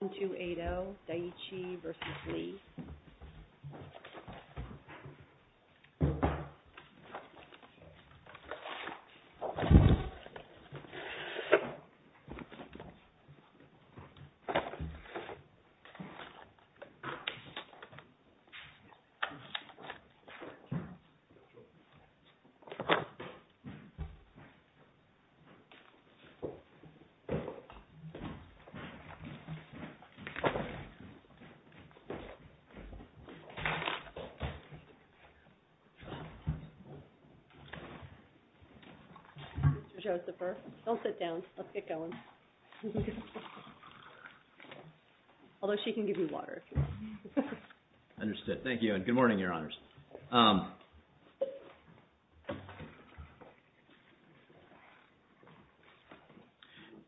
1, 2, 8, 0, Daiichi v. Lee 1, 2, 8, 0, Daiichi v. Lee Mr. Josepher, don't sit down. Let's get going. Although, she can give you water, if you want. Understood. Thank you and good morning, Your Honors.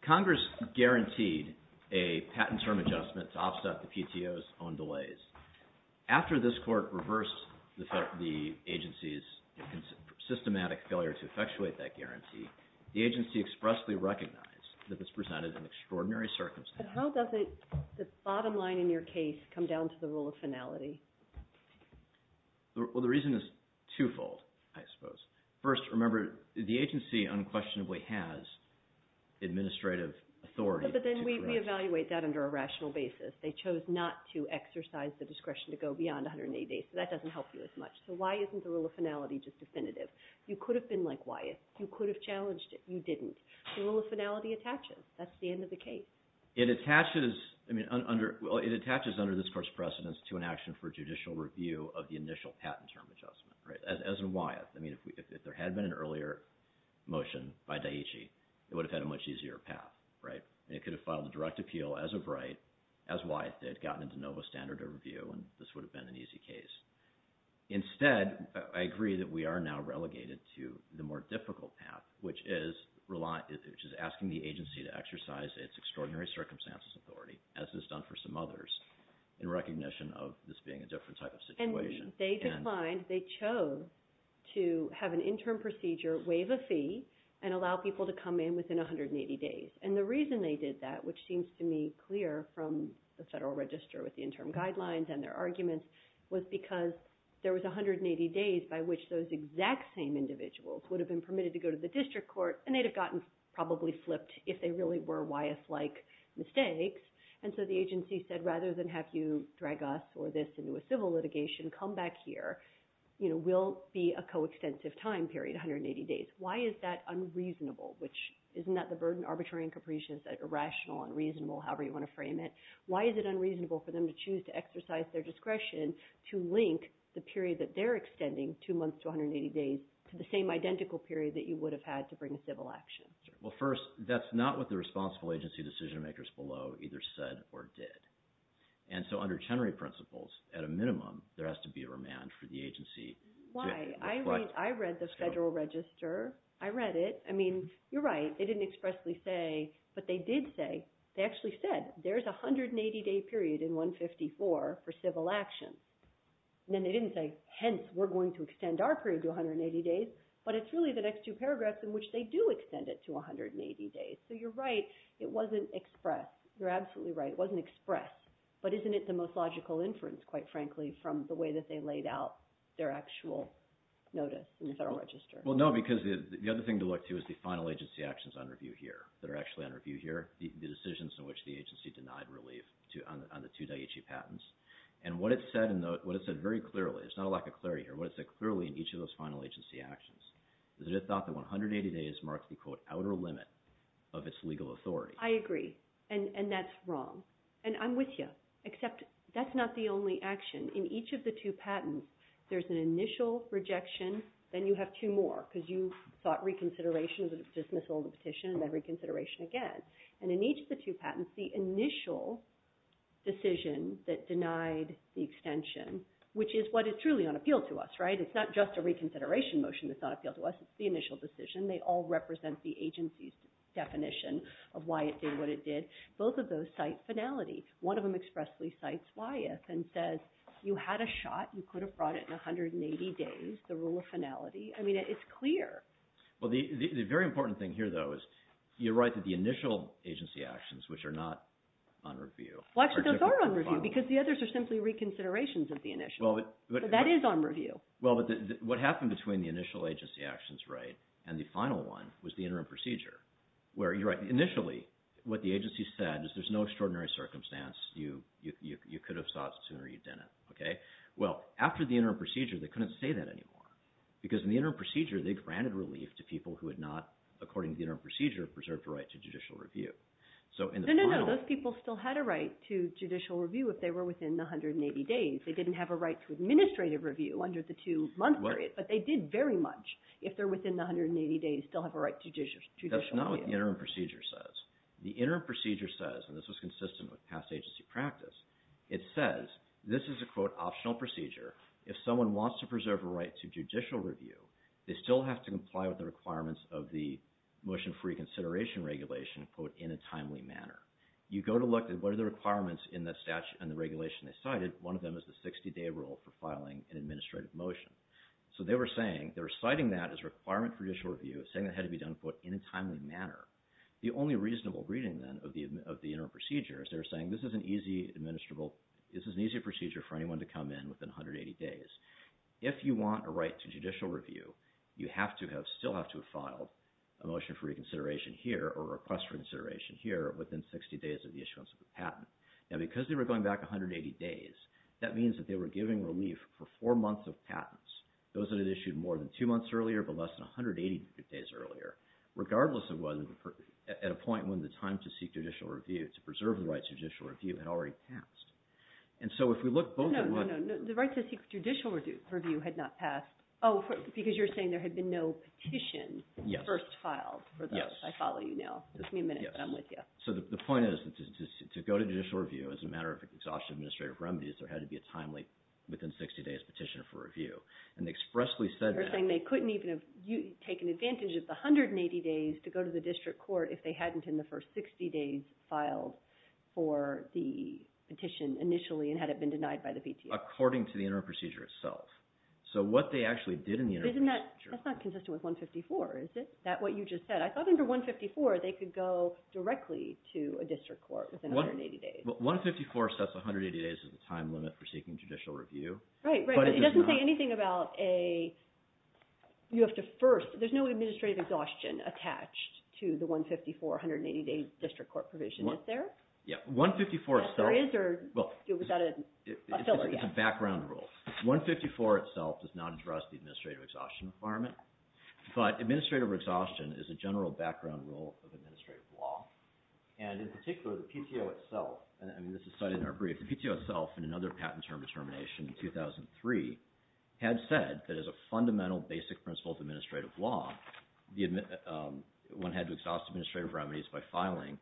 Congress guaranteed a patent term adjustment to offset the PTO's own delays. After this court reversed the agency's systematic failure to effectuate that guarantee, the agency expressly recognized that this presented an extraordinary circumstance. But how does the bottom line in your case come down to the rule of finality? Well, the reason is twofold, I suppose. First, remember, the agency unquestionably has administrative authority. But then we evaluate that under a rational basis. They chose not to exercise the discretion to go beyond 180 days, so that doesn't help you as much. So why isn't the rule of finality just definitive? You could have been like Wyeth. You could have challenged it. You didn't. The rule of finality attaches. That's the end of the case. It attaches under this court's precedence to an action for judicial review of the initial patent term adjustment, as in Wyeth. If there had been an earlier motion by Daiichi, it would have had a much easier path. They could have filed a direct appeal as of right, as Wyeth did, gotten into NOVA standard of review, and this would have been an easy case. Instead, I agree that we are now relegated to the more difficult path, which is asking the agency to exercise its extraordinary circumstances authority, as is done for some others, in recognition of this being a different type of situation. And when they declined, they chose to have an interim procedure, waive a fee, and allow people to come in within 180 days. And the reason they did that, which seems to me clear from the Federal Register with the interim guidelines and their arguments, was because there was 180 days by which those exact same individuals would have been permitted to go to the district court, and they'd have gotten probably flipped if they really were Wyeth-like mistakes. And so the agency said, rather than have you drag us or this into a civil litigation, come back here. We'll be a coextensive time period, 180 days. Why is that unreasonable? Isn't that the burden? Arbitrary and capricious, irrational, unreasonable, however you want to frame it. Why is it unreasonable for them to choose to exercise their discretion to link the period that they're extending, two months to 180 days, to the same identical period that you would have had to bring a civil action? Well, first, that's not what the responsible agency decision-makers below either said or did. And so under Chenery principles, at a minimum, there has to be a remand for the agency. Why? I read the Federal Register. I read it. I mean, you're right. They didn't expressly say, but they did say, they actually said, there's a 180-day period in 154 for civil action. And then they didn't say, hence, we're going to extend our period to 180 days. But it's really the next two paragraphs in which they do extend it to 180 days. So you're right. It wasn't expressed. You're absolutely right. It wasn't expressed. But isn't it the most logical inference, quite frankly, from the way that they laid out their actual notice in the Federal Register? Well, no, because the other thing to look to is the final agency actions on review here, that are actually on review here, the decisions in which the agency denied relief on the two Daiichi patents. And what it said very clearly – it's not a lack of clarity here – what it said clearly in each of those final agency actions is that it thought that 180 days marked the, quote, outer limit of its legal authority. I agree. And that's wrong. And I'm with you. Except that's not the only action. In each of the two patents, there's an initial rejection. Then you have two more, because you thought reconsideration was a dismissal of the petition, and then reconsideration again. And in each of the two patents, the initial decision that denied the extension, which is what is truly on appeal to us, right? It's not just a reconsideration motion that's on appeal to us. It's the initial decision. They all represent the agency's definition of why it did what it did. Both of those cite finality. One of them expressly cites why if, and says you had a shot. You could have brought it in 180 days, the rule of finality. I mean, it's clear. Well, the very important thing here, though, is you're right that the initial agency actions, which are not on review, are typically on review. Well, actually, those are on review, because the others are simply reconsiderations of the initial. But that is on review. Well, but what happened between the initial agency actions, right, and the final one was the interim procedure, where you're right, initially what the agency said is there's no extraordinary circumstance. You could have sought sooner. You didn't. Okay? Well, after the interim procedure, they couldn't say that anymore, because in the interim procedure they granted relief to people who had not, according to the interim procedure, preserved a right to judicial review. No, no, no. Those people still had a right to judicial review if they were within the 180 days. They didn't have a right to administrative review under the two-month period, but they did very much, if they're within the 180 days, still have a right to judicial review. That's not what the interim procedure says. The interim procedure says, and this was consistent with past agency practice, it says this is a, quote, optional procedure. If someone wants to preserve a right to judicial review, they still have to comply with the requirements of the motion-free consideration regulation, quote, in a timely manner. You go to look at what are the requirements in the statute and the regulation they cited. One of them is the 60-day rule for filing an administrative motion. So they were saying, they were citing that as a requirement for judicial review, saying it had to be done, quote, in a timely manner. The only reasonable reading, then, of the interim procedure is they were saying this is an easy administrable, this is an easy procedure for anyone to come in within 180 days. If you want a right to judicial review, you have to have, still have to have filed a motion-free consideration here or a request for consideration here within 60 days of the issuance of the patent. Now, because they were going back 180 days, that means that they were giving relief for four months of patents, those that had issued more than two months earlier but less than 180 days earlier, regardless of whether, at a point when the time to seek judicial review, to preserve the right to judicial review, had already passed. And so if we look both at what- No, no, no, the right to seek judicial review had not passed. Oh, because you're saying there had been no petition first filed for those. Yes. I follow you now. Give me a minute, but I'm with you. So the point is, to go to judicial review as a matter of exhaustion of the administrative remedies, there had to be a timely, within 60 days, petition for review. And they expressly said that- You're saying they couldn't even have taken advantage of the 180 days to go to the district court if they hadn't in the first 60 days filed for the petition initially and had it been denied by the PTA. According to the interim procedure itself. So what they actually did in the interim procedure- But isn't that, that's not consistent with 154, is it? Is that what you just said? I thought under 154 they could go directly to a district court within 180 days. Well, 154 sets 180 days as the time limit for seeking judicial review. Right, right. But it doesn't say anything about a, you have to first, there's no administrative exhaustion attached to the 154, 180-day district court provision. Is there? Yeah, 154 itself- There is, or was that a filler? It's a background rule. 154 itself does not address the administrative exhaustion requirement. But administrative exhaustion is a general background rule of administrative law. And in particular, the PTO itself, and this is cited in our brief, the PTO itself in another patent term determination in 2003 had said that as a fundamental basic principle of administrative law, one had to exhaust administrative remedies by filing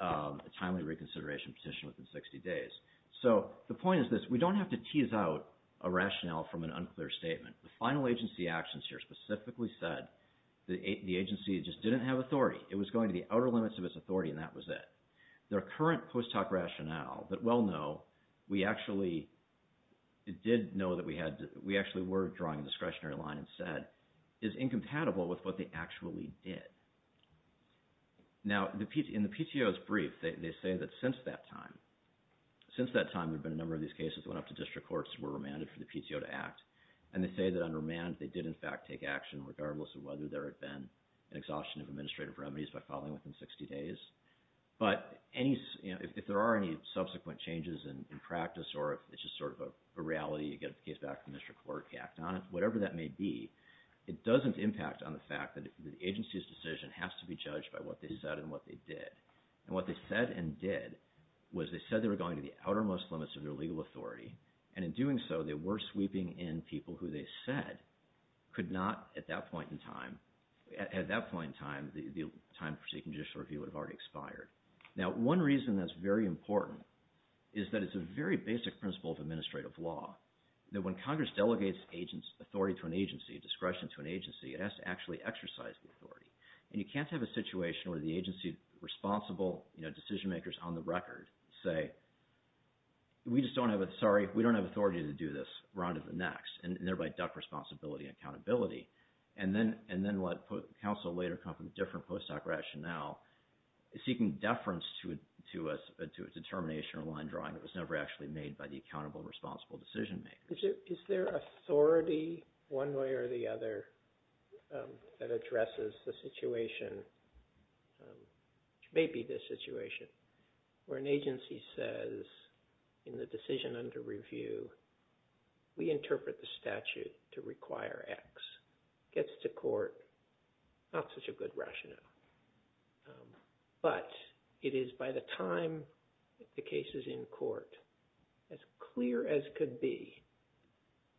a timely reconsideration petition within 60 days. So the point is this. We don't have to tease out a rationale from an unclear statement. The final agency actions here specifically said the agency just didn't have authority. It was going to the outer limits of its authority, and that was it. Their current post hoc rationale that well know, we actually did know that we had, we actually were drawing a discretionary line instead, is incompatible with what they actually did. Now, in the PTO's brief, they say that since that time, since that time there have been a number of these cases that went up to district courts and were remanded for the PTO to act, and they say that on remand they did in fact take action regardless of whether there had been an exhaustion of administrative remedies by filing within 60 days. But if there are any subsequent changes in practice or if it's just sort of a reality, you get a case back from district court, you act on it, whatever that may be, it doesn't impact on the fact that the agency's decision has to be judged by what they said and what they did. And what they said and did was they said they were going to the outermost limits of their legal authority, and in doing so they were sweeping in people who they said could not at that point in time, at that point in time, the time for seeking judicial review would have already expired. Now, one reason that's very important is that it's a very basic principle of administrative law that when Congress delegates authority to an agency, discretion to an agency, it has to actually exercise the authority. And you can't have a situation where the agency's responsible decision makers on the record say, we just don't have, sorry, we don't have authority to do this round of the next, and thereby duck responsibility and accountability. And then let counsel later come from a different post-doc rationale seeking deference to a determination or line drawing that was never actually made by the accountable, responsible decision makers. Is there authority one way or the other that addresses the situation, which may be this situation, where an agency says in the decision under review we interpret the statute to require X, gets to court, not such a good rationale. But it is by the time the case is in court, as clear as could be,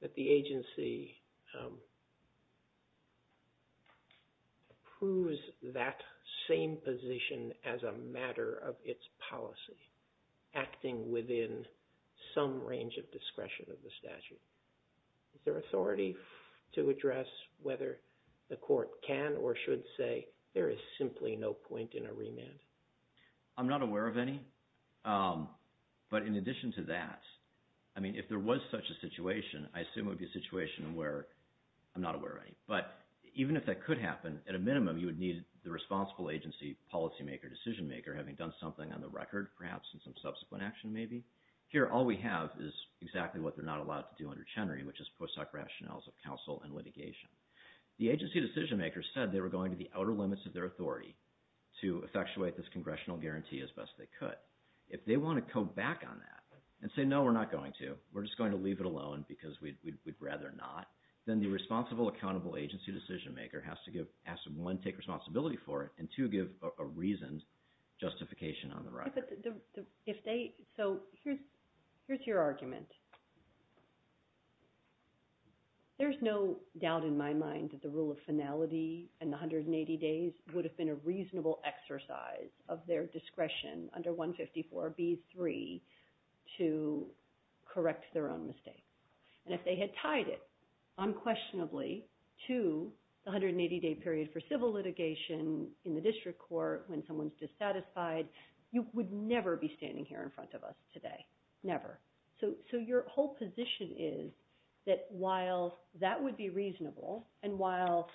that the agency approves that same position as a matter of its policy, acting within some range of discretion of the statute. Is there authority to address whether the court can or should say there is simply no point in a remand? I'm not aware of any. But in addition to that, I mean, if there was such a situation, I assume it would be a situation where I'm not aware of any. But even if that could happen, at a minimum, you would need the responsible agency policymaker, decision maker, having done something on the record perhaps and some subsequent action maybe. Here all we have is exactly what they're not allowed to do under Chenery, which is post-hoc rationales of counsel and litigation. The agency decision maker said they were going to the outer limits of their authority to effectuate this congressional guarantee as best they could. If they want to come back on that and say, no, we're not going to, we're just going to leave it alone because we'd rather not, then the responsible, accountable agency decision maker has to one, take responsibility for it, and two, give a reasoned justification on the record. So here's your argument. There's no doubt in my mind that the rule of finality and the 180 days would have been a reasonable exercise of their discretion under 154B3 to correct their own mistake. And if they had tied it unquestionably to the 180-day period for civil litigation in the district court when someone's dissatisfied, you would never be standing here in front of us today, never. So your whole position is that while that would be reasonable and while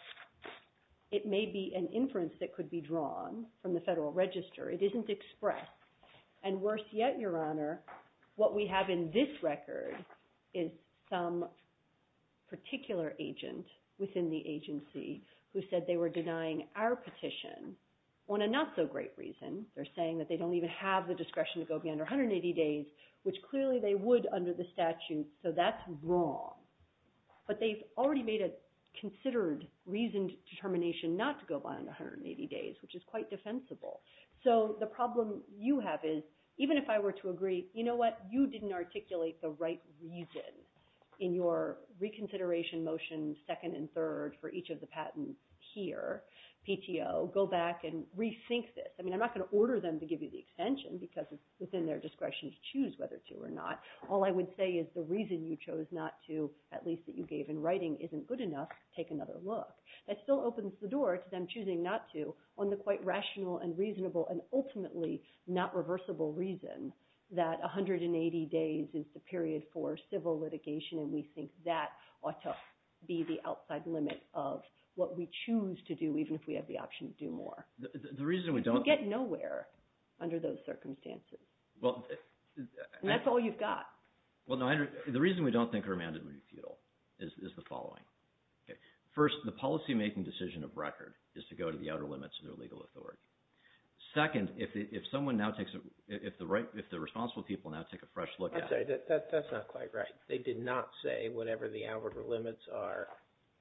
it may be an inference that could be drawn from the federal register, it isn't expressed. And worse yet, Your Honor, what we have in this record is some particular agent within the agency who said they were denying our petition on a not-so-great reason. They're saying that they don't even have the discretion to go beyond 180 days, which clearly they would under the statute, so that's wrong. But they've already made a considered reasoned determination not to go beyond 180 days, which is quite defensible. So the problem you have is, even if I were to agree, you know what? In your reconsideration motion second and third for each of the patents here, PTO, go back and rethink this. I mean, I'm not going to order them to give you the extension because it's within their discretion to choose whether to or not. All I would say is the reason you chose not to, at least that you gave in writing, isn't good enough. Take another look. That still opens the door to them choosing not to on the quite rational and reasonable and ultimately not reversible reason that 180 days is the period for civil litigation, and we think that ought to be the outside limit of what we choose to do, even if we have the option to do more. You get nowhere under those circumstances. And that's all you've got. The reason we don't think remand would be futile is the following. First, the policymaking decision of record is to go to the outer limits of their legal authority. Second, if the responsible people now take a fresh look at it. I'm sorry. That's not quite right. They did not say whatever the outer limits are,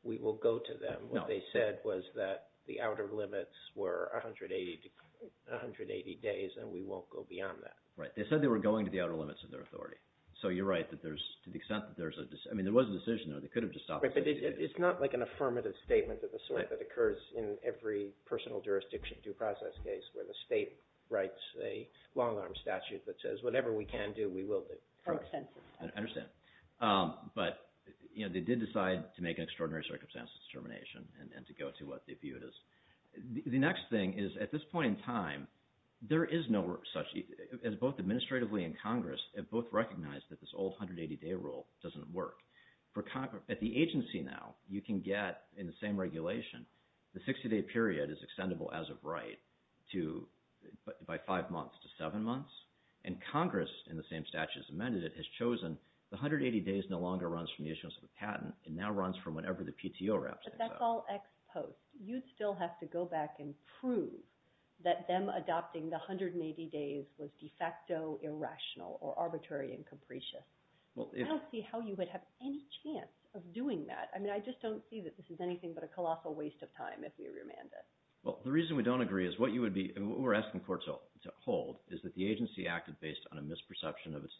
we will go to them. No. What they said was that the outer limits were 180 days, and we won't go beyond that. Right. They said they were going to the outer limits of their authority. So you're right to the extent that there's a decision. I mean, there was a decision, though. They could have just stopped at 80 days. But it's not like an affirmative statement of the sort that occurs in every personal jurisdiction due process case where the state writes a long-arm statute that says, whatever we can do, we will do. I understand. But they did decide to make an extraordinary circumstances determination and to go to what they viewed as. The next thing is, at this point in time, there is no such – as both administratively and Congress have both recognized that this old 180-day rule doesn't work. At the agency now, you can get, in the same regulation, the 60-day period is extendable as of right by five months to seven months. And Congress, in the same statute as amended, has chosen the 180 days no longer runs from the issuance of the patent. It now runs from whenever the PTO wraps things up. But that's all ex post. You'd still have to go back and prove that them adopting the 180 days was de facto irrational or arbitrary and capricious. I don't see how you would have any chance of doing that. I mean, I just don't see that this is anything but a colossal waste of time if we remand it. Well, the reason we don't agree is what you would be – what we're asking courts to hold is that the agency acted based on a misperception of its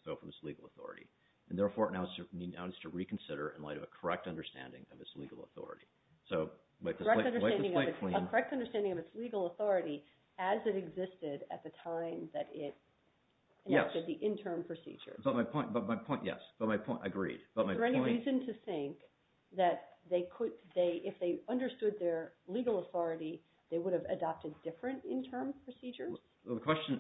legal authority and therefore now needs to reconsider in light of a correct understanding of its legal authority. So – A correct understanding of its legal authority as it existed at the time that it enacted the interim procedures. But my point – yes. But my point – agreed. But my point – Is there any reason to think that they could – if they understood their legal authority, they would have adopted different interim procedures? Well, the question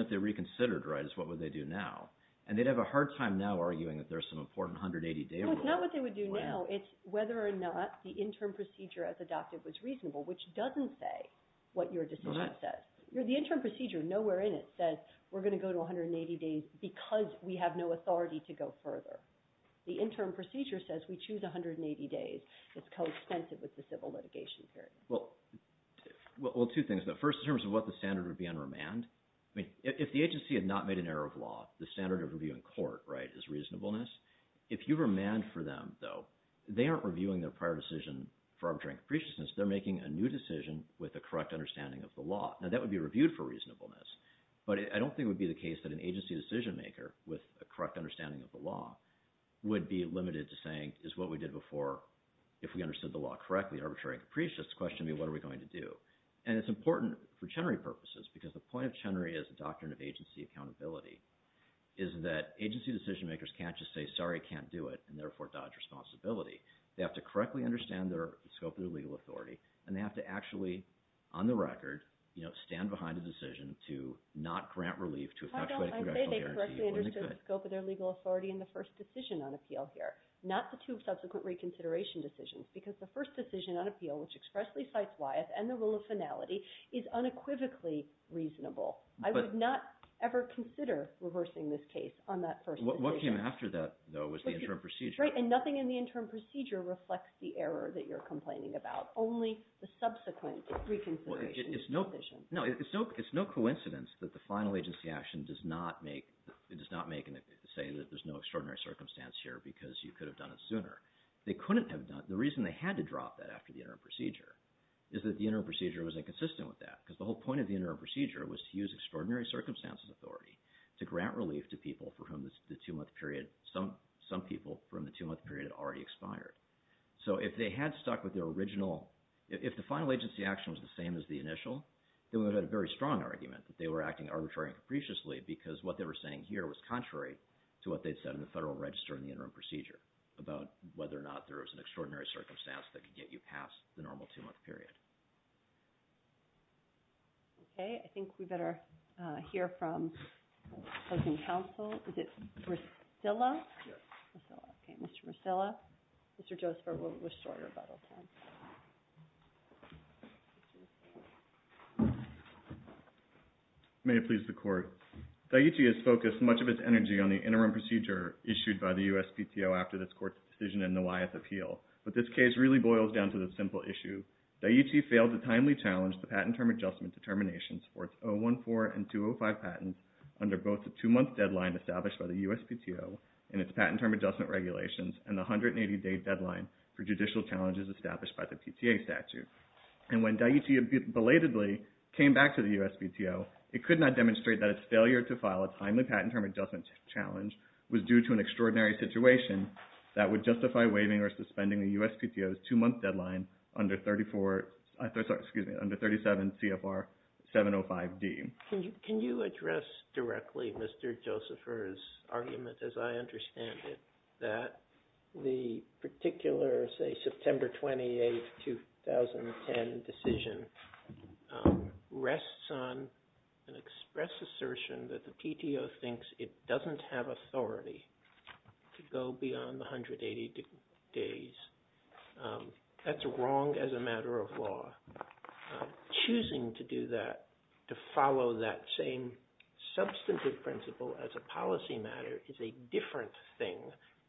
if they reconsidered, right, is what would they do now? And they'd have a hard time now arguing that there's some important 180-day rule. Well, it's not what they would do now. It's whether or not the interim procedure as adopted was reasonable, which doesn't say what your decision says. The interim procedure, nowhere in it says we're going to go to 180 days because we have no authority to go further. The interim procedure says we choose 180 days. It's coextensive with the civil litigation period. Well, two things. First, in terms of what the standard would be on remand, if the agency had not made an error of law, the standard of review in court, right, is reasonableness. If you remand for them, though, they aren't reviewing their prior decision for arbitrary capriciousness. They're making a new decision with a correct understanding of the law. Now, that would be reviewed for reasonableness. But I don't think it would be the case that an agency decision-maker with a correct understanding of the law would be limited to saying, is what we did before, if we understood the law correctly, arbitrary capriciousness, question me, what are we going to do? And it's important for Chenery purposes because the point of Chenery as a doctrine of agency accountability is that agency decision-makers can't just say, sorry, I can't do it, and therefore dodge responsibility. They have to correctly understand the scope of their legal authority, and they have to actually, on the record, stand behind a decision to not grant relief to a factually congressional guarantee. I say they correctly understand the scope of their legal authority in the first decision on appeal here, not the two subsequent reconsideration decisions, because the first decision on appeal, which expressly cites Wyeth and the rule of finality, is unequivocally reasonable. I would not ever consider reversing this case on that first decision. What came after that, though, was the interim procedure. Right, and nothing in the interim procedure reflects the error that you're complaining about, only the subsequent reconsideration. No, it's no coincidence that the final agency action does not make and say that there's no extraordinary circumstance here because you could have done it sooner. They couldn't have done it. The reason they had to drop that after the interim procedure is that the interim procedure was inconsistent with that, because the whole point of the interim procedure was to use extraordinary circumstances authority to grant relief to people for whom the two-month period, some people from the two-month period had already expired. So if they had stuck with their original, if the final agency action was the same as the initial, then we would have had a very strong argument that they were acting arbitrarily and capriciously because what they were saying here was contrary to what they'd said in the federal register in the interim procedure about whether or not there was an extraordinary circumstance that could get you past the normal two-month period. Okay, I think we better hear from closing counsel. Is it Russilla? Yes. Okay, Mr. Russilla. Mr. Joseph, we're short about all time. May it please the Court. Daiichi has focused much of its energy on the interim procedure issued by the USPTO after this Court's decision in the Wyeth appeal, but this case really boils down to the simple issue. Daiichi failed to timely challenge the patent term adjustment determinations for its 014 and 205 patents under both the two-month deadline established by the USPTO and its patent term adjustment regulations and the 180-day deadline for judicial challenges established by the PTA statute. And when Daiichi belatedly came back to the USPTO, it could not demonstrate that its failure to file a timely patent term adjustment challenge was due to an extraordinary situation that would justify waiving or suspending the USPTO's two-month deadline under 37 CFR 705D. Can you address directly Mr. Joseph's argument, as I understand it, that the particular, say, September 28, 2010 decision rests on an express assertion that the PTO thinks it doesn't have authority to go beyond the 180 days. That's wrong as a matter of law. Choosing to do that, to follow that same substantive principle as a policy matter is a different thing,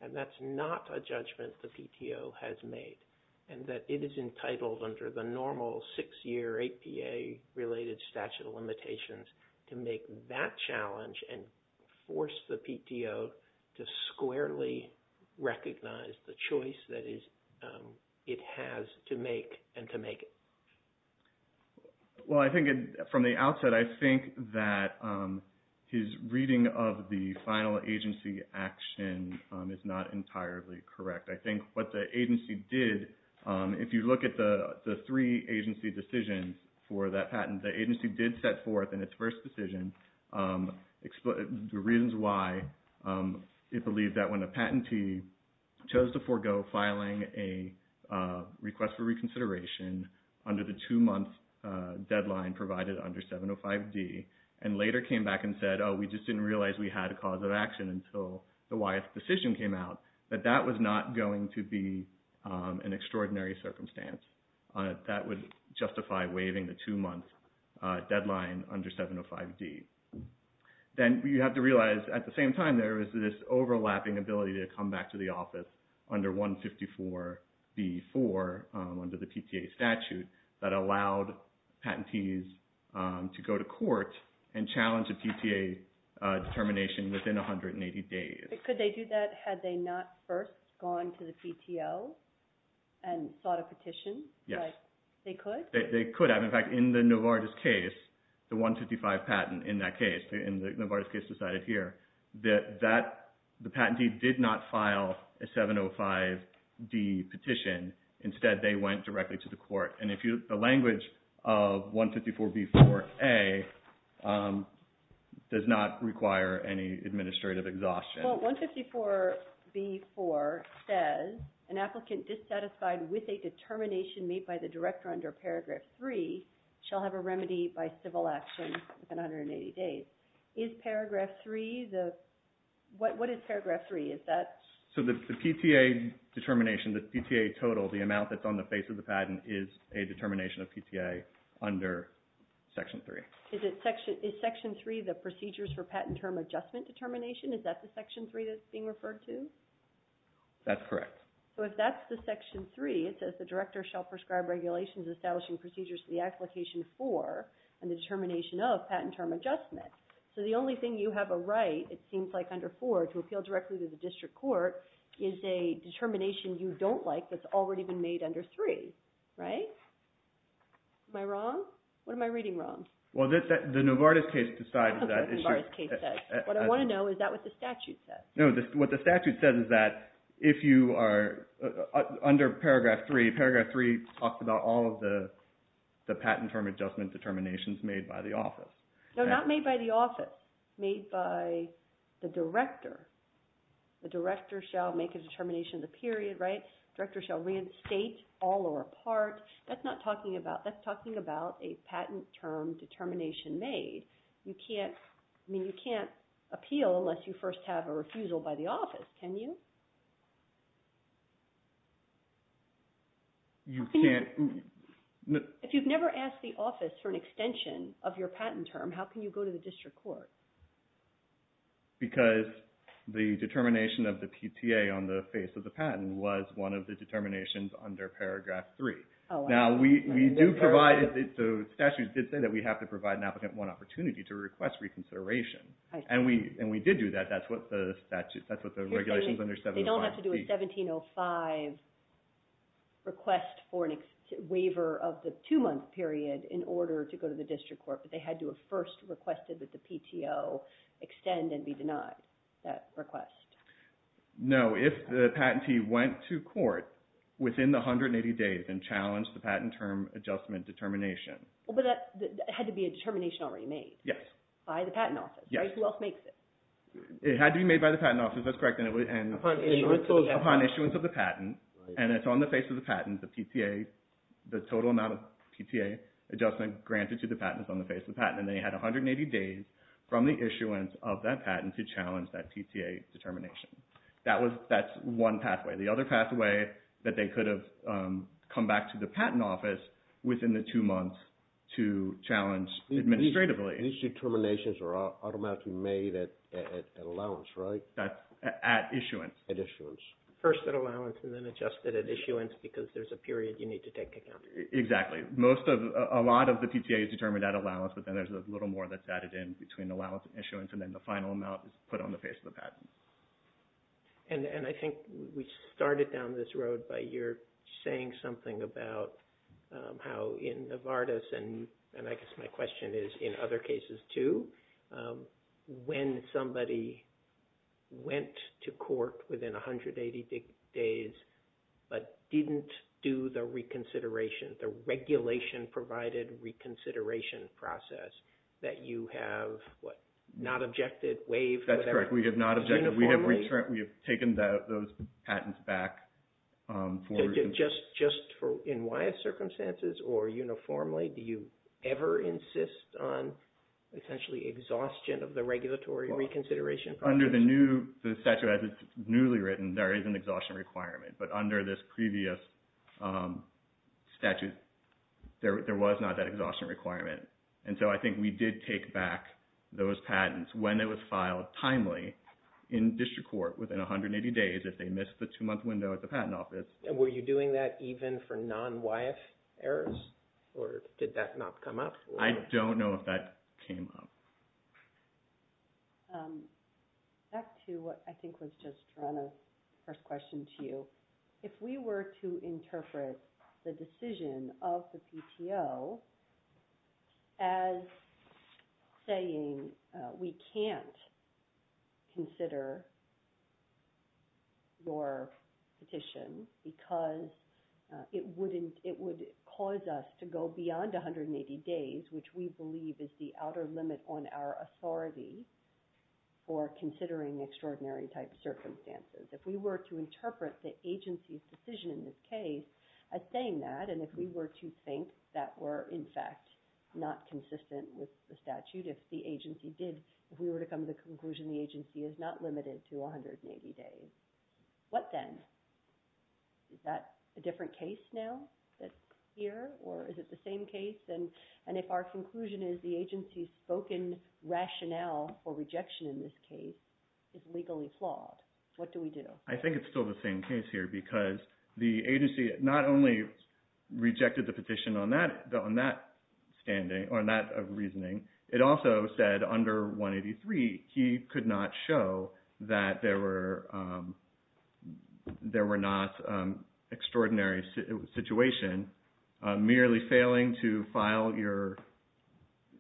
and that's not a judgment the PTO has made, and that it is entitled under the normal six-year APA-related statute of limitations to make that challenge and force the PTO to squarely recognize the choice that it has to make and to make it. Well, I think from the outset, I think that his reading of the final agency action is not entirely correct. I think what the agency did, if you look at the three agency decisions for that patent, the agency did set forth in its first decision the reasons why it believed that when a patentee chose to forego filing a request for reconsideration under the two-month deadline provided under 705D and later came back and said, oh, we just didn't realize we had a cause of action until the Wyeth decision came out, that that was not going to be an extraordinary circumstance. That would justify waiving the two-month deadline under 705D. Then you have to realize at the same time there is this overlapping ability to come back to the office under 154B4 under the PTA statute that allowed patentees to go to court and challenge a PTA determination within 180 days. Could they do that had they not first gone to the PTO and sought a petition? Yes. They could? They could have. In fact, in the Novartis case, the 155 patent in that case, in the Novartis case decided here, that the patentee did not file a 705D petition. Instead, they went directly to the court. And the language of 154B4A does not require any administrative exhaustion. Well, 154B4 says, an applicant dissatisfied with a determination made by the director under Paragraph 3 shall have a remedy by civil action within 180 days. Is Paragraph 3 the... What is Paragraph 3? Is that... So the PTA determination, the PTA total, the amount that's on the face of the patent, is a determination of PTA under Section 3. Is Section 3 the procedures for patent term adjustment determination? Is that the Section 3 that's being referred to? That's correct. So if that's the Section 3, it says the director shall prescribe regulations establishing procedures for the application for and the determination of patent term adjustment. So the only thing you have a right, it seems like under 4, to appeal directly to the district court is a determination you don't like that's already been made under 3, right? Am I wrong? What am I reading wrong? Well, the Novartis case decides that... Okay, the Novartis case says. What I want to know, is that what the statute says? No, what the statute says is that if you are under Paragraph 3, Paragraph 3 talks about all of the patent term adjustment determinations made by the office. No, not made by the office. Made by the director. The director shall make a determination of the period, right? Director shall reinstate all or a part. That's not talking about... That's talking about a patent term determination made. You can't... I mean, you can't appeal unless you first have a refusal by the office, can you? You can't... If you've never asked the office for an extension of your patent term, how can you go to the district court? Because the determination of the PTA on the face of the patent was one of the determinations under Paragraph 3. Now, we do provide... The statute did say that we have to provide an applicant one opportunity to request reconsideration. And we did do that. That's what the statute... That's what the regulations under 1705... They don't have to do a 1705 request for a waiver of the two-month period in order to go to the district court. But they had to have first requested that the PTO extend and be denied that request. No. If the patentee went to court within the 180 days and challenged the patent term adjustment determination... But that had to be a determination already made. Yes. By the patent office, right? Who else makes it? It had to be made by the patent office. That's correct. Upon issuance of the patent, and it's on the face of the patent, the PTA... The total amount of PTA adjustment granted to the patent is on the face of the patent. And they had 180 days from the issuance of that patent to challenge that PTA determination. That's one pathway. The other pathway that they could have come back to the patent office within the two months to challenge administratively... These determinations are automatically made at allowance, right? At issuance. At issuance. First at allowance and then adjusted at issuance because there's a period you need to take into account. Exactly. A lot of the PTA is determined at allowance, but then there's a little more that's added in between allowance and issuance, and then the final amount is put on the face of the patent. And I think we started down this road by your saying something about how in Novartis, and I guess my question is in other cases too, when somebody went to court within 180 days but didn't do the reconsideration, the regulation-provided reconsideration process, that you have not objected, waived, whatever? That's correct. We have not objected. We have taken those patents back for reconsideration. Just in wise circumstances or uniformly, do you ever insist on essentially exhaustion of the regulatory reconsideration process? Under the statute as it's newly written, there is an exhaustion requirement, but under this previous statute, there was not that exhaustion requirement. And so I think we did take back those patents when they were filed timely in district court within 180 days if they missed the two-month window at the Patent Office. And were you doing that even for non-YF errors, or did that not come up? I don't know if that came up. Back to what I think was just Joanna's first question to you. If we were to interpret the decision of the PTO as saying we can't consider your petition because it would cause us to go beyond 180 days, which we believe is the outer limit on our authority for considering extraordinary type circumstances. If we were to interpret the agency's decision in this case as saying that, and if we were to think that we're in fact not consistent with the statute, if we were to come to the conclusion the agency is not limited to 180 days, what then? Is that a different case now that's here, or is it the same case? And if our conclusion is the agency's spoken rationale for rejection in this case is legally flawed, what do we do? I think it's still the same case here because the agency not only rejected the petition on that reasoning, it also said under 183 he could not show that there were not extraordinary situation merely failing to file your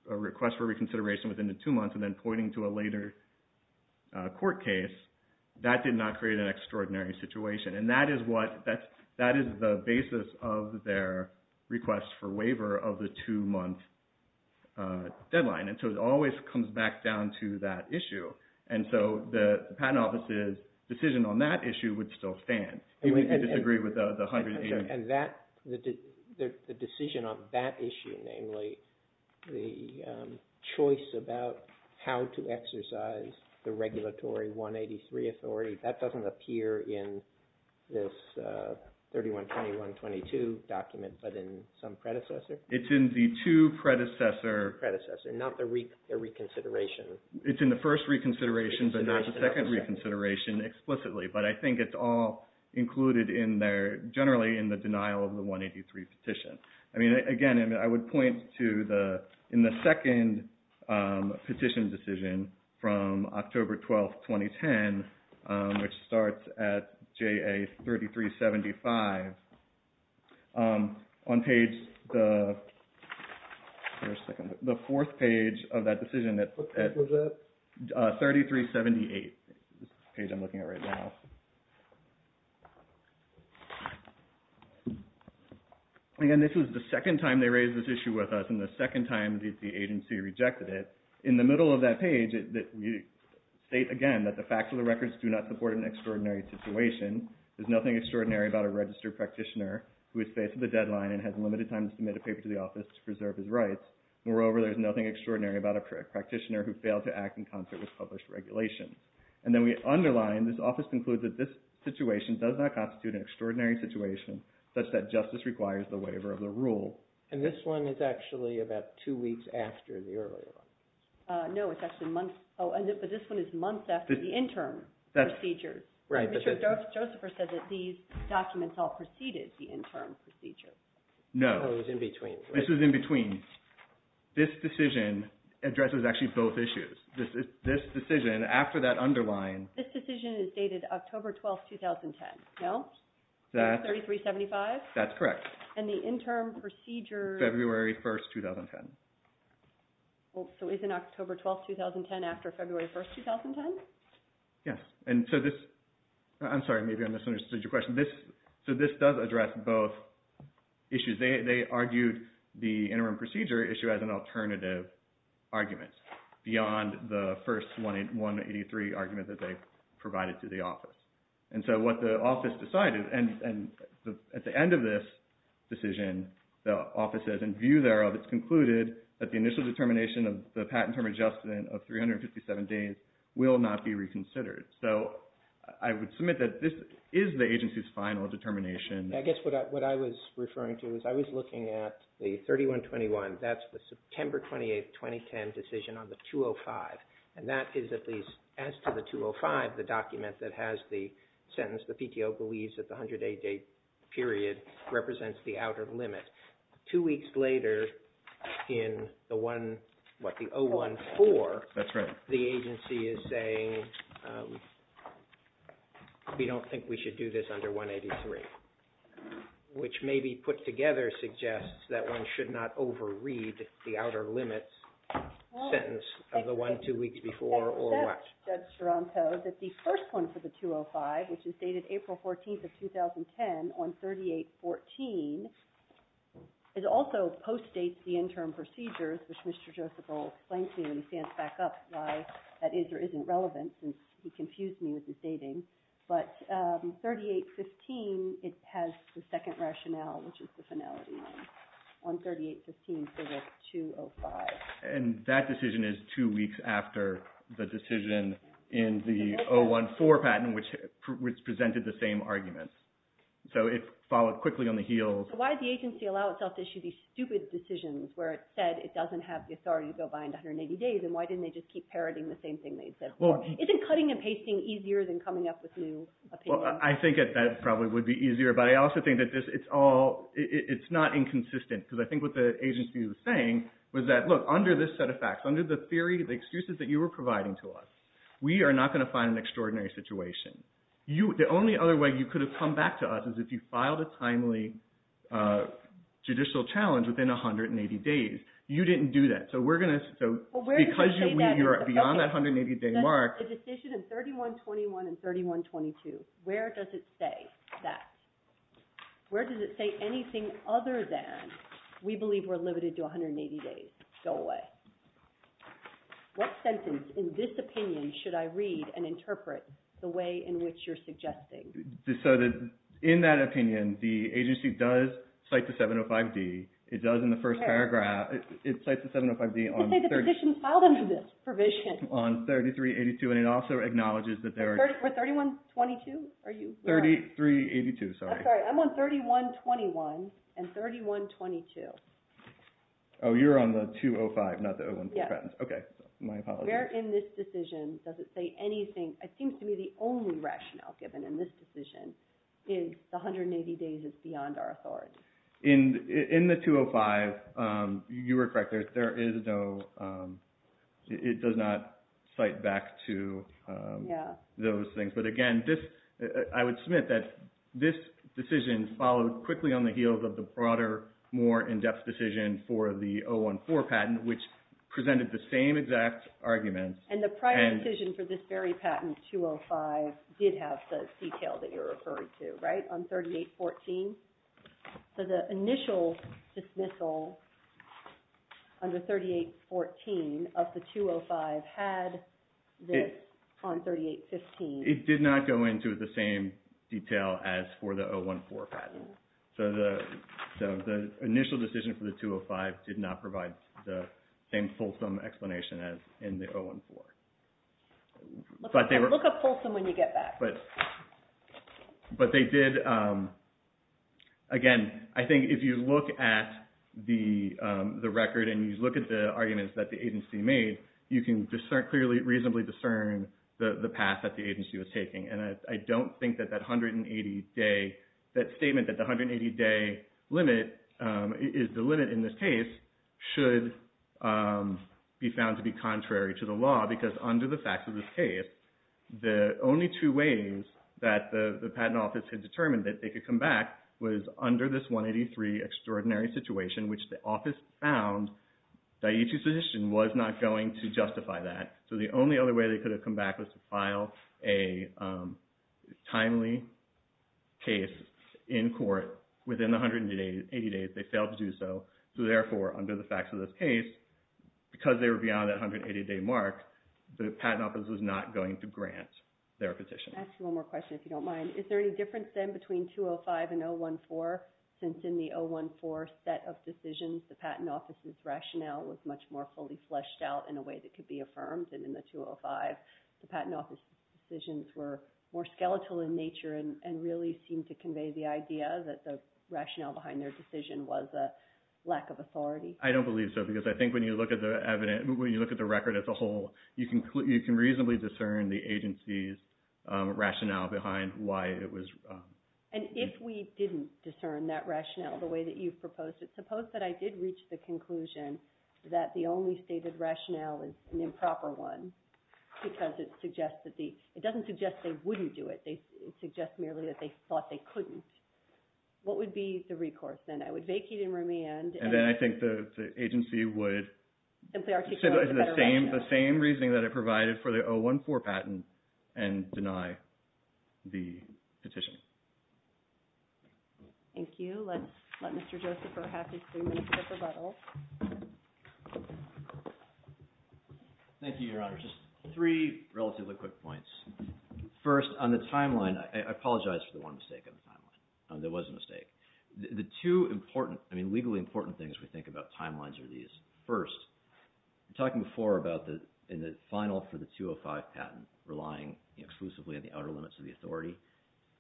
request for reconsideration within the two months and then pointing to a later court case. That did not create an extraordinary situation. And that is the basis of their request for waiver of the two-month deadline. And so it always comes back down to that issue. And so the Patent Office's decision on that issue would still stand, even if you disagree with the 180 days. And the decision on that issue, namely the choice about how to exercise the regulatory 183 authority, that doesn't appear in this 3121-22 document but in some predecessor? It's in the two predecessor. Predecessor, not the reconsideration. It's in the first reconsideration but not the second reconsideration explicitly. But I think it's all included in there, generally in the denial of the 183 petition. Again, I would point to in the second petition decision from October 12th, 2010, which starts at JA 3375, on page the fourth page of that decision, 3378 is the page I'm looking at right now. And this is the second time they raised this issue with us and the second time the agency rejected it. In the middle of that page, we state again that the facts of the records do not support an extraordinary situation. There's nothing extraordinary about a registered practitioner who has faced the deadline and has limited time to submit a paper to the office to preserve his rights. Moreover, there's nothing extraordinary about a practitioner who failed to act in concert with published regulations. And then we underline, this office concludes that this situation does not constitute an extraordinary situation such that justice requires the waiver of the rule. And this one is actually about two weeks after the earlier one. No, it's actually months. Oh, but this one is months after the interim procedure. Right. But Mr. Josepher said that these documents all preceded the interim procedure. No. Oh, it was in between. This was in between. This decision addresses actually both issues. This decision, after that underline... This decision is dated October 12th, 2010. No? That's... 23375? That's correct. And the interim procedure... February 1st, 2010. Well, so is it October 12th, 2010 after February 1st, 2010? Yes. And so this... I'm sorry, maybe I misunderstood your question. So this does address both issues. They argued the interim procedure issue as an alternative argument beyond the first 183 argument that they provided to the office. And so what the office decided... And at the end of this decision, the office says, in view thereof, it's concluded that the initial determination of the patent term adjustment of 357 days will not be reconsidered. So I would submit that this is the agency's final determination. I guess what I was referring to is I was looking at the 3121. That's the September 28th, 2010 decision on the 205. And that is at least, as to the 205, the document that has the sentence the PTO believes that the 108-day period represents the outer limit. Two weeks later, in the one... what, the 014... That's right. ...the agency is saying, we don't think we should do this under 183, which maybe put together suggests that one should not overread the outer limits sentence of the one two weeks before or what. Except, Judge Taranto, that the first one for the 205, which is dated April 14th of 2010, on 3814, it also post-dates the interim procedures, which Mr. Joseph Roll explains to me when he stands back up why that is or isn't relevant, since he confused me with his dating. But 3815, it has the second rationale, which is the finality line, on 3815 for the 205. And that decision is two weeks after the decision in the 014 patent, which presented the same argument. So it followed quickly on the heels... So why did the agency allow itself to issue these stupid decisions where it said it doesn't have the authority to go behind 180 days, and why didn't they just keep parroting the same thing they had said before? Isn't cutting and pasting easier than coming up with new opinions? Well, I think that that probably would be easier, but I also think that it's not inconsistent, because I think what the agency was saying was that, look, under this set of facts, under the theory, the excuses that you were providing to us, we are not going to find an extraordinary situation. The only other way you could have come back to us is if you filed a timely judicial challenge within 180 days. You didn't do that. So we're going to... Because you're beyond that 180-day mark... The decision in 3121 and 3122, where does it say that? Where does it say anything other than we believe we're limited to 180 days? Go away. What sentence in this opinion should I read and interpret the way in which you're suggesting? So in that opinion, the agency does cite the 705D. It does in the first paragraph. It cites the 705D on... It says the petition filed under this provision. On 3382, and it also acknowledges that there are... We're 3122? Are you... 3382, sorry. I'm sorry. I'm on 3121 and 3122. Oh, you're on the 205, not the 014 patents. Yes. Okay, my apologies. Where in this decision does it say anything? It seems to me the only rationale given in this decision is the 180 days is beyond our authority. In the 205, you were correct. There is no... It does not cite back to those things. But again, I would submit that this decision followed quickly on the heels of the broader, more in-depth decision for the 014 patent, which presented the same exact arguments. And the prior decision for this very patent, 205, did have the detail that you're referring to, right? On 3814? So the initial dismissal on the 3814 of the 205 had this on 3815. It did not go into the same detail as for the 014 patent. So the initial decision for the 205 did not provide the same fulsome explanation as in the 014. Look up fulsome when you get back. But they did... Again, I think if you look at the record and you look at the arguments that the agency made, you can reasonably discern the path that the agency was taking. And I don't think that that 180-day... That statement that the 180-day limit is the limit in this case should be found to be contrary to the law because under the facts of this case, the only two ways that the patent office had determined that they could come back was under this 183 extraordinary situation which the office found that each decision was not going to justify that. So the only other way they could have come back was to file a timely case in court within the 180 days. They failed to do so. So therefore, under the facts of this case, because they were beyond that 180-day mark, the patent office was not going to grant their petition. I have one more question, if you don't mind. Is there any difference, then, between 205 and 014? Since in the 014 set of decisions, the patent office's rationale was much more fully fleshed out in a way that could be affirmed. And in the 205, the patent office's decisions were more skeletal in nature and really seemed to convey the idea that the rationale behind their decision was a lack of authority. I don't believe so because I think when you look at the record as a whole, you can reasonably discern the agency's rationale behind why it was... And if we didn't discern that rationale the way that you've proposed it, suppose that I did reach the conclusion that the only stated rationale is an improper one because it doesn't suggest they wouldn't do it. It suggests merely that they thought they couldn't. What would be the recourse, then? I would vacate and remand... And then I think the agency would... The same reasoning that it provided for the 014 patent and deny the petition. Thank you. Let's let Mr. Joseph have his three minutes of rebuttal. Thank you, Your Honor. Just three relatively quick points. First, on the timeline, I apologize for the one mistake on the timeline. There was a mistake. The two important, I mean, legally important things we think about timelines are these. First, you were talking before about the final for the 205 patent relying exclusively on the outer limits of the authority.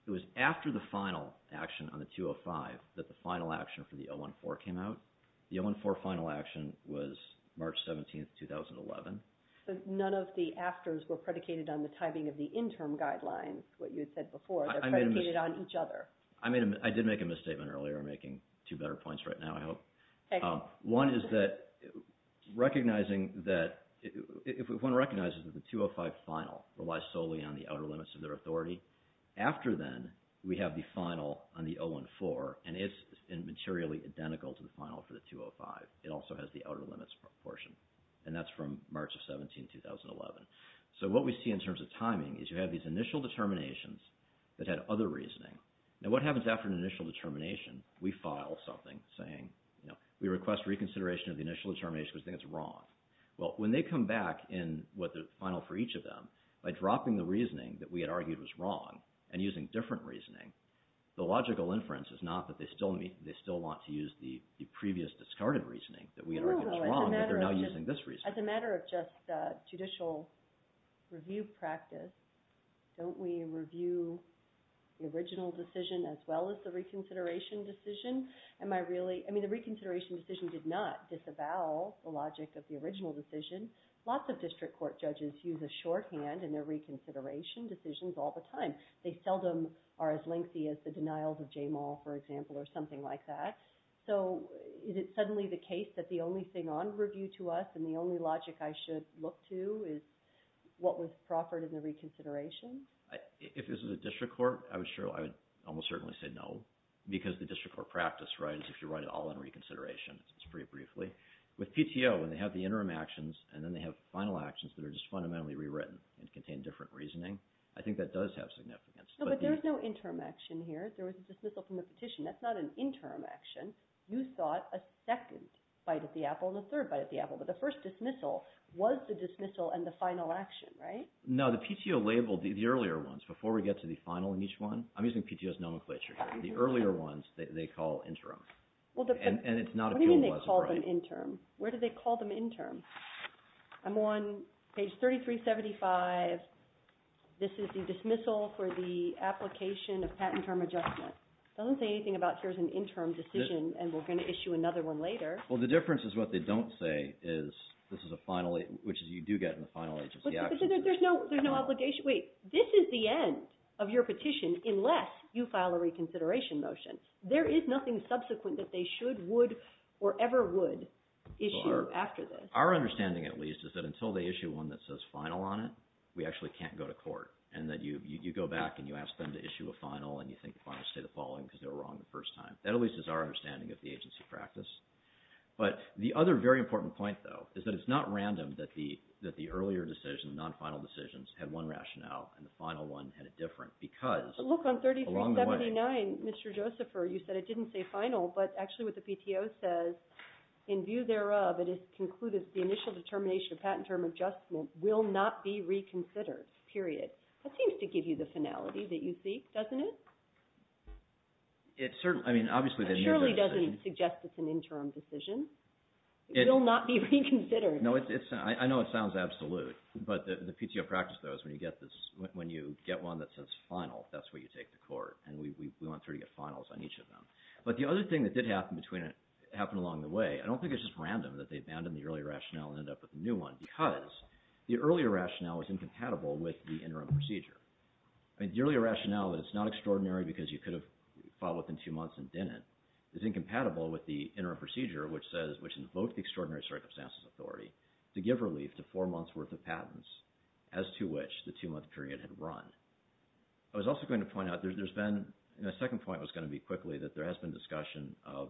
It was after the final action on the 205 that the final action for the 014 came out. The 014 final action was March 17, 2011. But none of the afters were predicated on the timing of the interim guidelines, what you had said before. They're predicated on each other. I did make a misstatement earlier. I'm making two better points right now, I hope. One is that recognizing that, one recognizes that the 205 final relies solely on the outer limits of their authority. After then, we have the final on the 014, and it's materially identical to the final for the 205. It also has the outer limits portion, and that's from March of 17, 2011. So what we see in terms of timing is you have these initial determinations that had other reasoning. Now, what happens after an initial determination? We file something saying, we request reconsideration of the initial determination because we think it's wrong. Well, when they come back in what the final for each of them, by dropping the reasoning that we had argued was wrong and using different reasoning, the logical inference is not that they still want to use the previous discarded reasoning that we had argued was wrong, but they're now using this reasoning. As a matter of just judicial review practice, don't we review the original decision as well as the reconsideration decision? I mean, the reconsideration decision did not disavow the logic of the original decision. Lots of district court judges use a shorthand in their reconsideration decisions all the time. They seldom are as lengthy as the denials of Jamal, for example, or something like that. So is it suddenly the case that the only thing on review to us and the only logic I should look to is what was proffered in the reconsideration? If this was a district court, I would almost certainly say no, because the district court practice, right, is if you write it all in reconsideration, it's pretty briefly. With PTO, when they have the interim actions and then they have final actions that are just fundamentally rewritten and contain different reasoning, I think that does have significance. But there's no interim action here. There was a dismissal from the petition. That's not an interim action. You sought a second bite at the apple and a third bite at the apple, but the first dismissal was the dismissal and the final action, right? No, the PTO labeled the earlier ones before we get to the final in each one. I'm using PTO's nomenclature here. The earlier ones, they call interim. And it's not a cumulative right. What do you mean they call them interim? Where do they call them interim? I'm on page 3375. This is the dismissal for the application of patent term adjustment. It doesn't say anything about here's an interim decision and we're going to issue another one later. Well, the difference is what they don't say is this is a final, which you do get in the final agency action. But there's no obligation. Wait, this is the end of your petition unless you file a reconsideration motion. There is nothing subsequent that they should, would, or ever would issue after this. Our understanding, at least, is that until they issue one that says final on it, we actually can't go to court. And that you go back and you ask them to issue a final and you think the final state of the following because they were wrong the first time. That, at least, is our understanding of the agency practice. But the other very important point, though, is that it's not random that the earlier decision, the non-final decisions, had one rationale and the final one had a different because along the way... Look, on 3379, Mr. Josepher, you said it didn't say final, but actually what the PTO says, in view thereof, it is concluded the initial determination of patent term adjustment will not be reconsidered, period. That seems to give you the finality that you seek, doesn't it? It certainly, I mean, obviously... It surely doesn't suggest it's an interim decision. It will not be reconsidered. No, it's, I know it sounds absolute, but the PTO practice, though, is when you get this, when you get one that says final, that's where you take the court and we went through to get finals on each of them. But the other thing that did happen along the way, I don't think it's just random that they abandoned the earlier rationale and ended up with a new one because the earlier rationale was incompatible with the interim procedure. I mean, the earlier rationale that it's not extraordinary because you could have fought within two months and didn't is incompatible with the interim procedure which says, which invoked the extraordinary circumstances authority to give relief to four months' worth of patents as to which the two-month period had run. I was also going to point out, there's been, and the second point was going to be quickly, that there has been discussion of,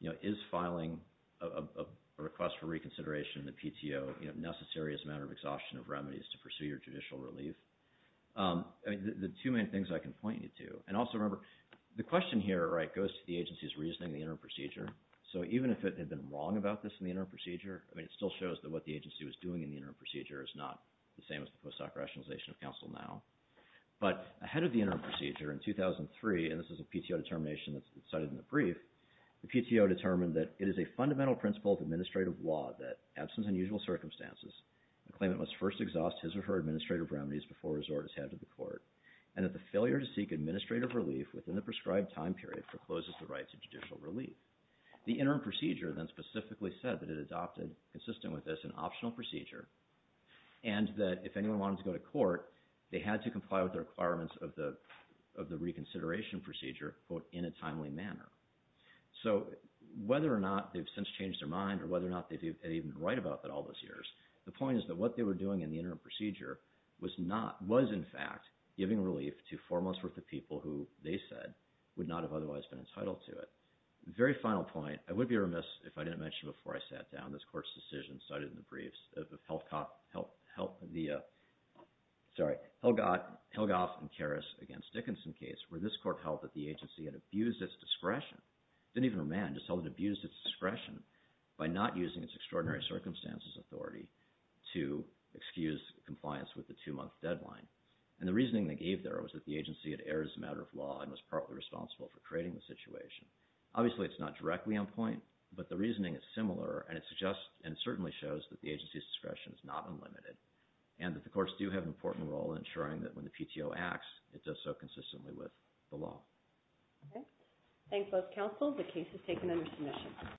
you know, is filing a request for reconsideration in the PTO necessary as a matter of exhaustion of remedies to pursue your judicial relief? I mean, the two main things I can point you to, and also remember, the question here, right, goes to the agency's reasoning in the interim procedure. So even if it had been wrong about this in the interim procedure, I mean, it still shows that what the agency was doing in the interim procedure is not the same as the post-hoc rationalization of counsel now. But ahead of the interim procedure in 2003, and this is a PTO determination that's cited in the brief, the PTO determined that it is a fundamental principle of administrative law that, absence of unusual circumstances, the claimant must first exhaust his or her administrative remedies before resort is handed to the court, and that the failure to seek administrative relief within the prescribed time period forecloses the right to judicial relief. The interim procedure then specifically said that it adopted, consistent with this, an optional procedure, and that if anyone wanted to go to court, they had to comply with the requirements of the reconsideration procedure, quote, in a timely manner. So whether or not they've since changed their mind or whether or not they've even been right about that all those years, the point is that what they were doing in the interim procedure was not, was in fact giving relief to four months' worth of people who, they said, would not have otherwise been entitled to it. Very final point, I would be remiss if I didn't mention before I sat down this court's decision cited in the briefs of Helgoff and Karas against Dickinson case, where this court held that the agency had abused its discretion, didn't even remand, just held it abused its discretion by not using its extraordinary circumstances authority to excuse compliance with the two-month deadline. And the reasoning they gave there was that the agency had erred as a matter of law and was partly responsible for creating the situation. Obviously, it's not directly on point, but the reasoning is similar and it suggests and certainly shows that the agency's discretion is not unlimited and that the courts do have an important role in ensuring that when the PTO acts, it does so consistently with the law. Okay. Thanks, both counsels. The case is taken under submission.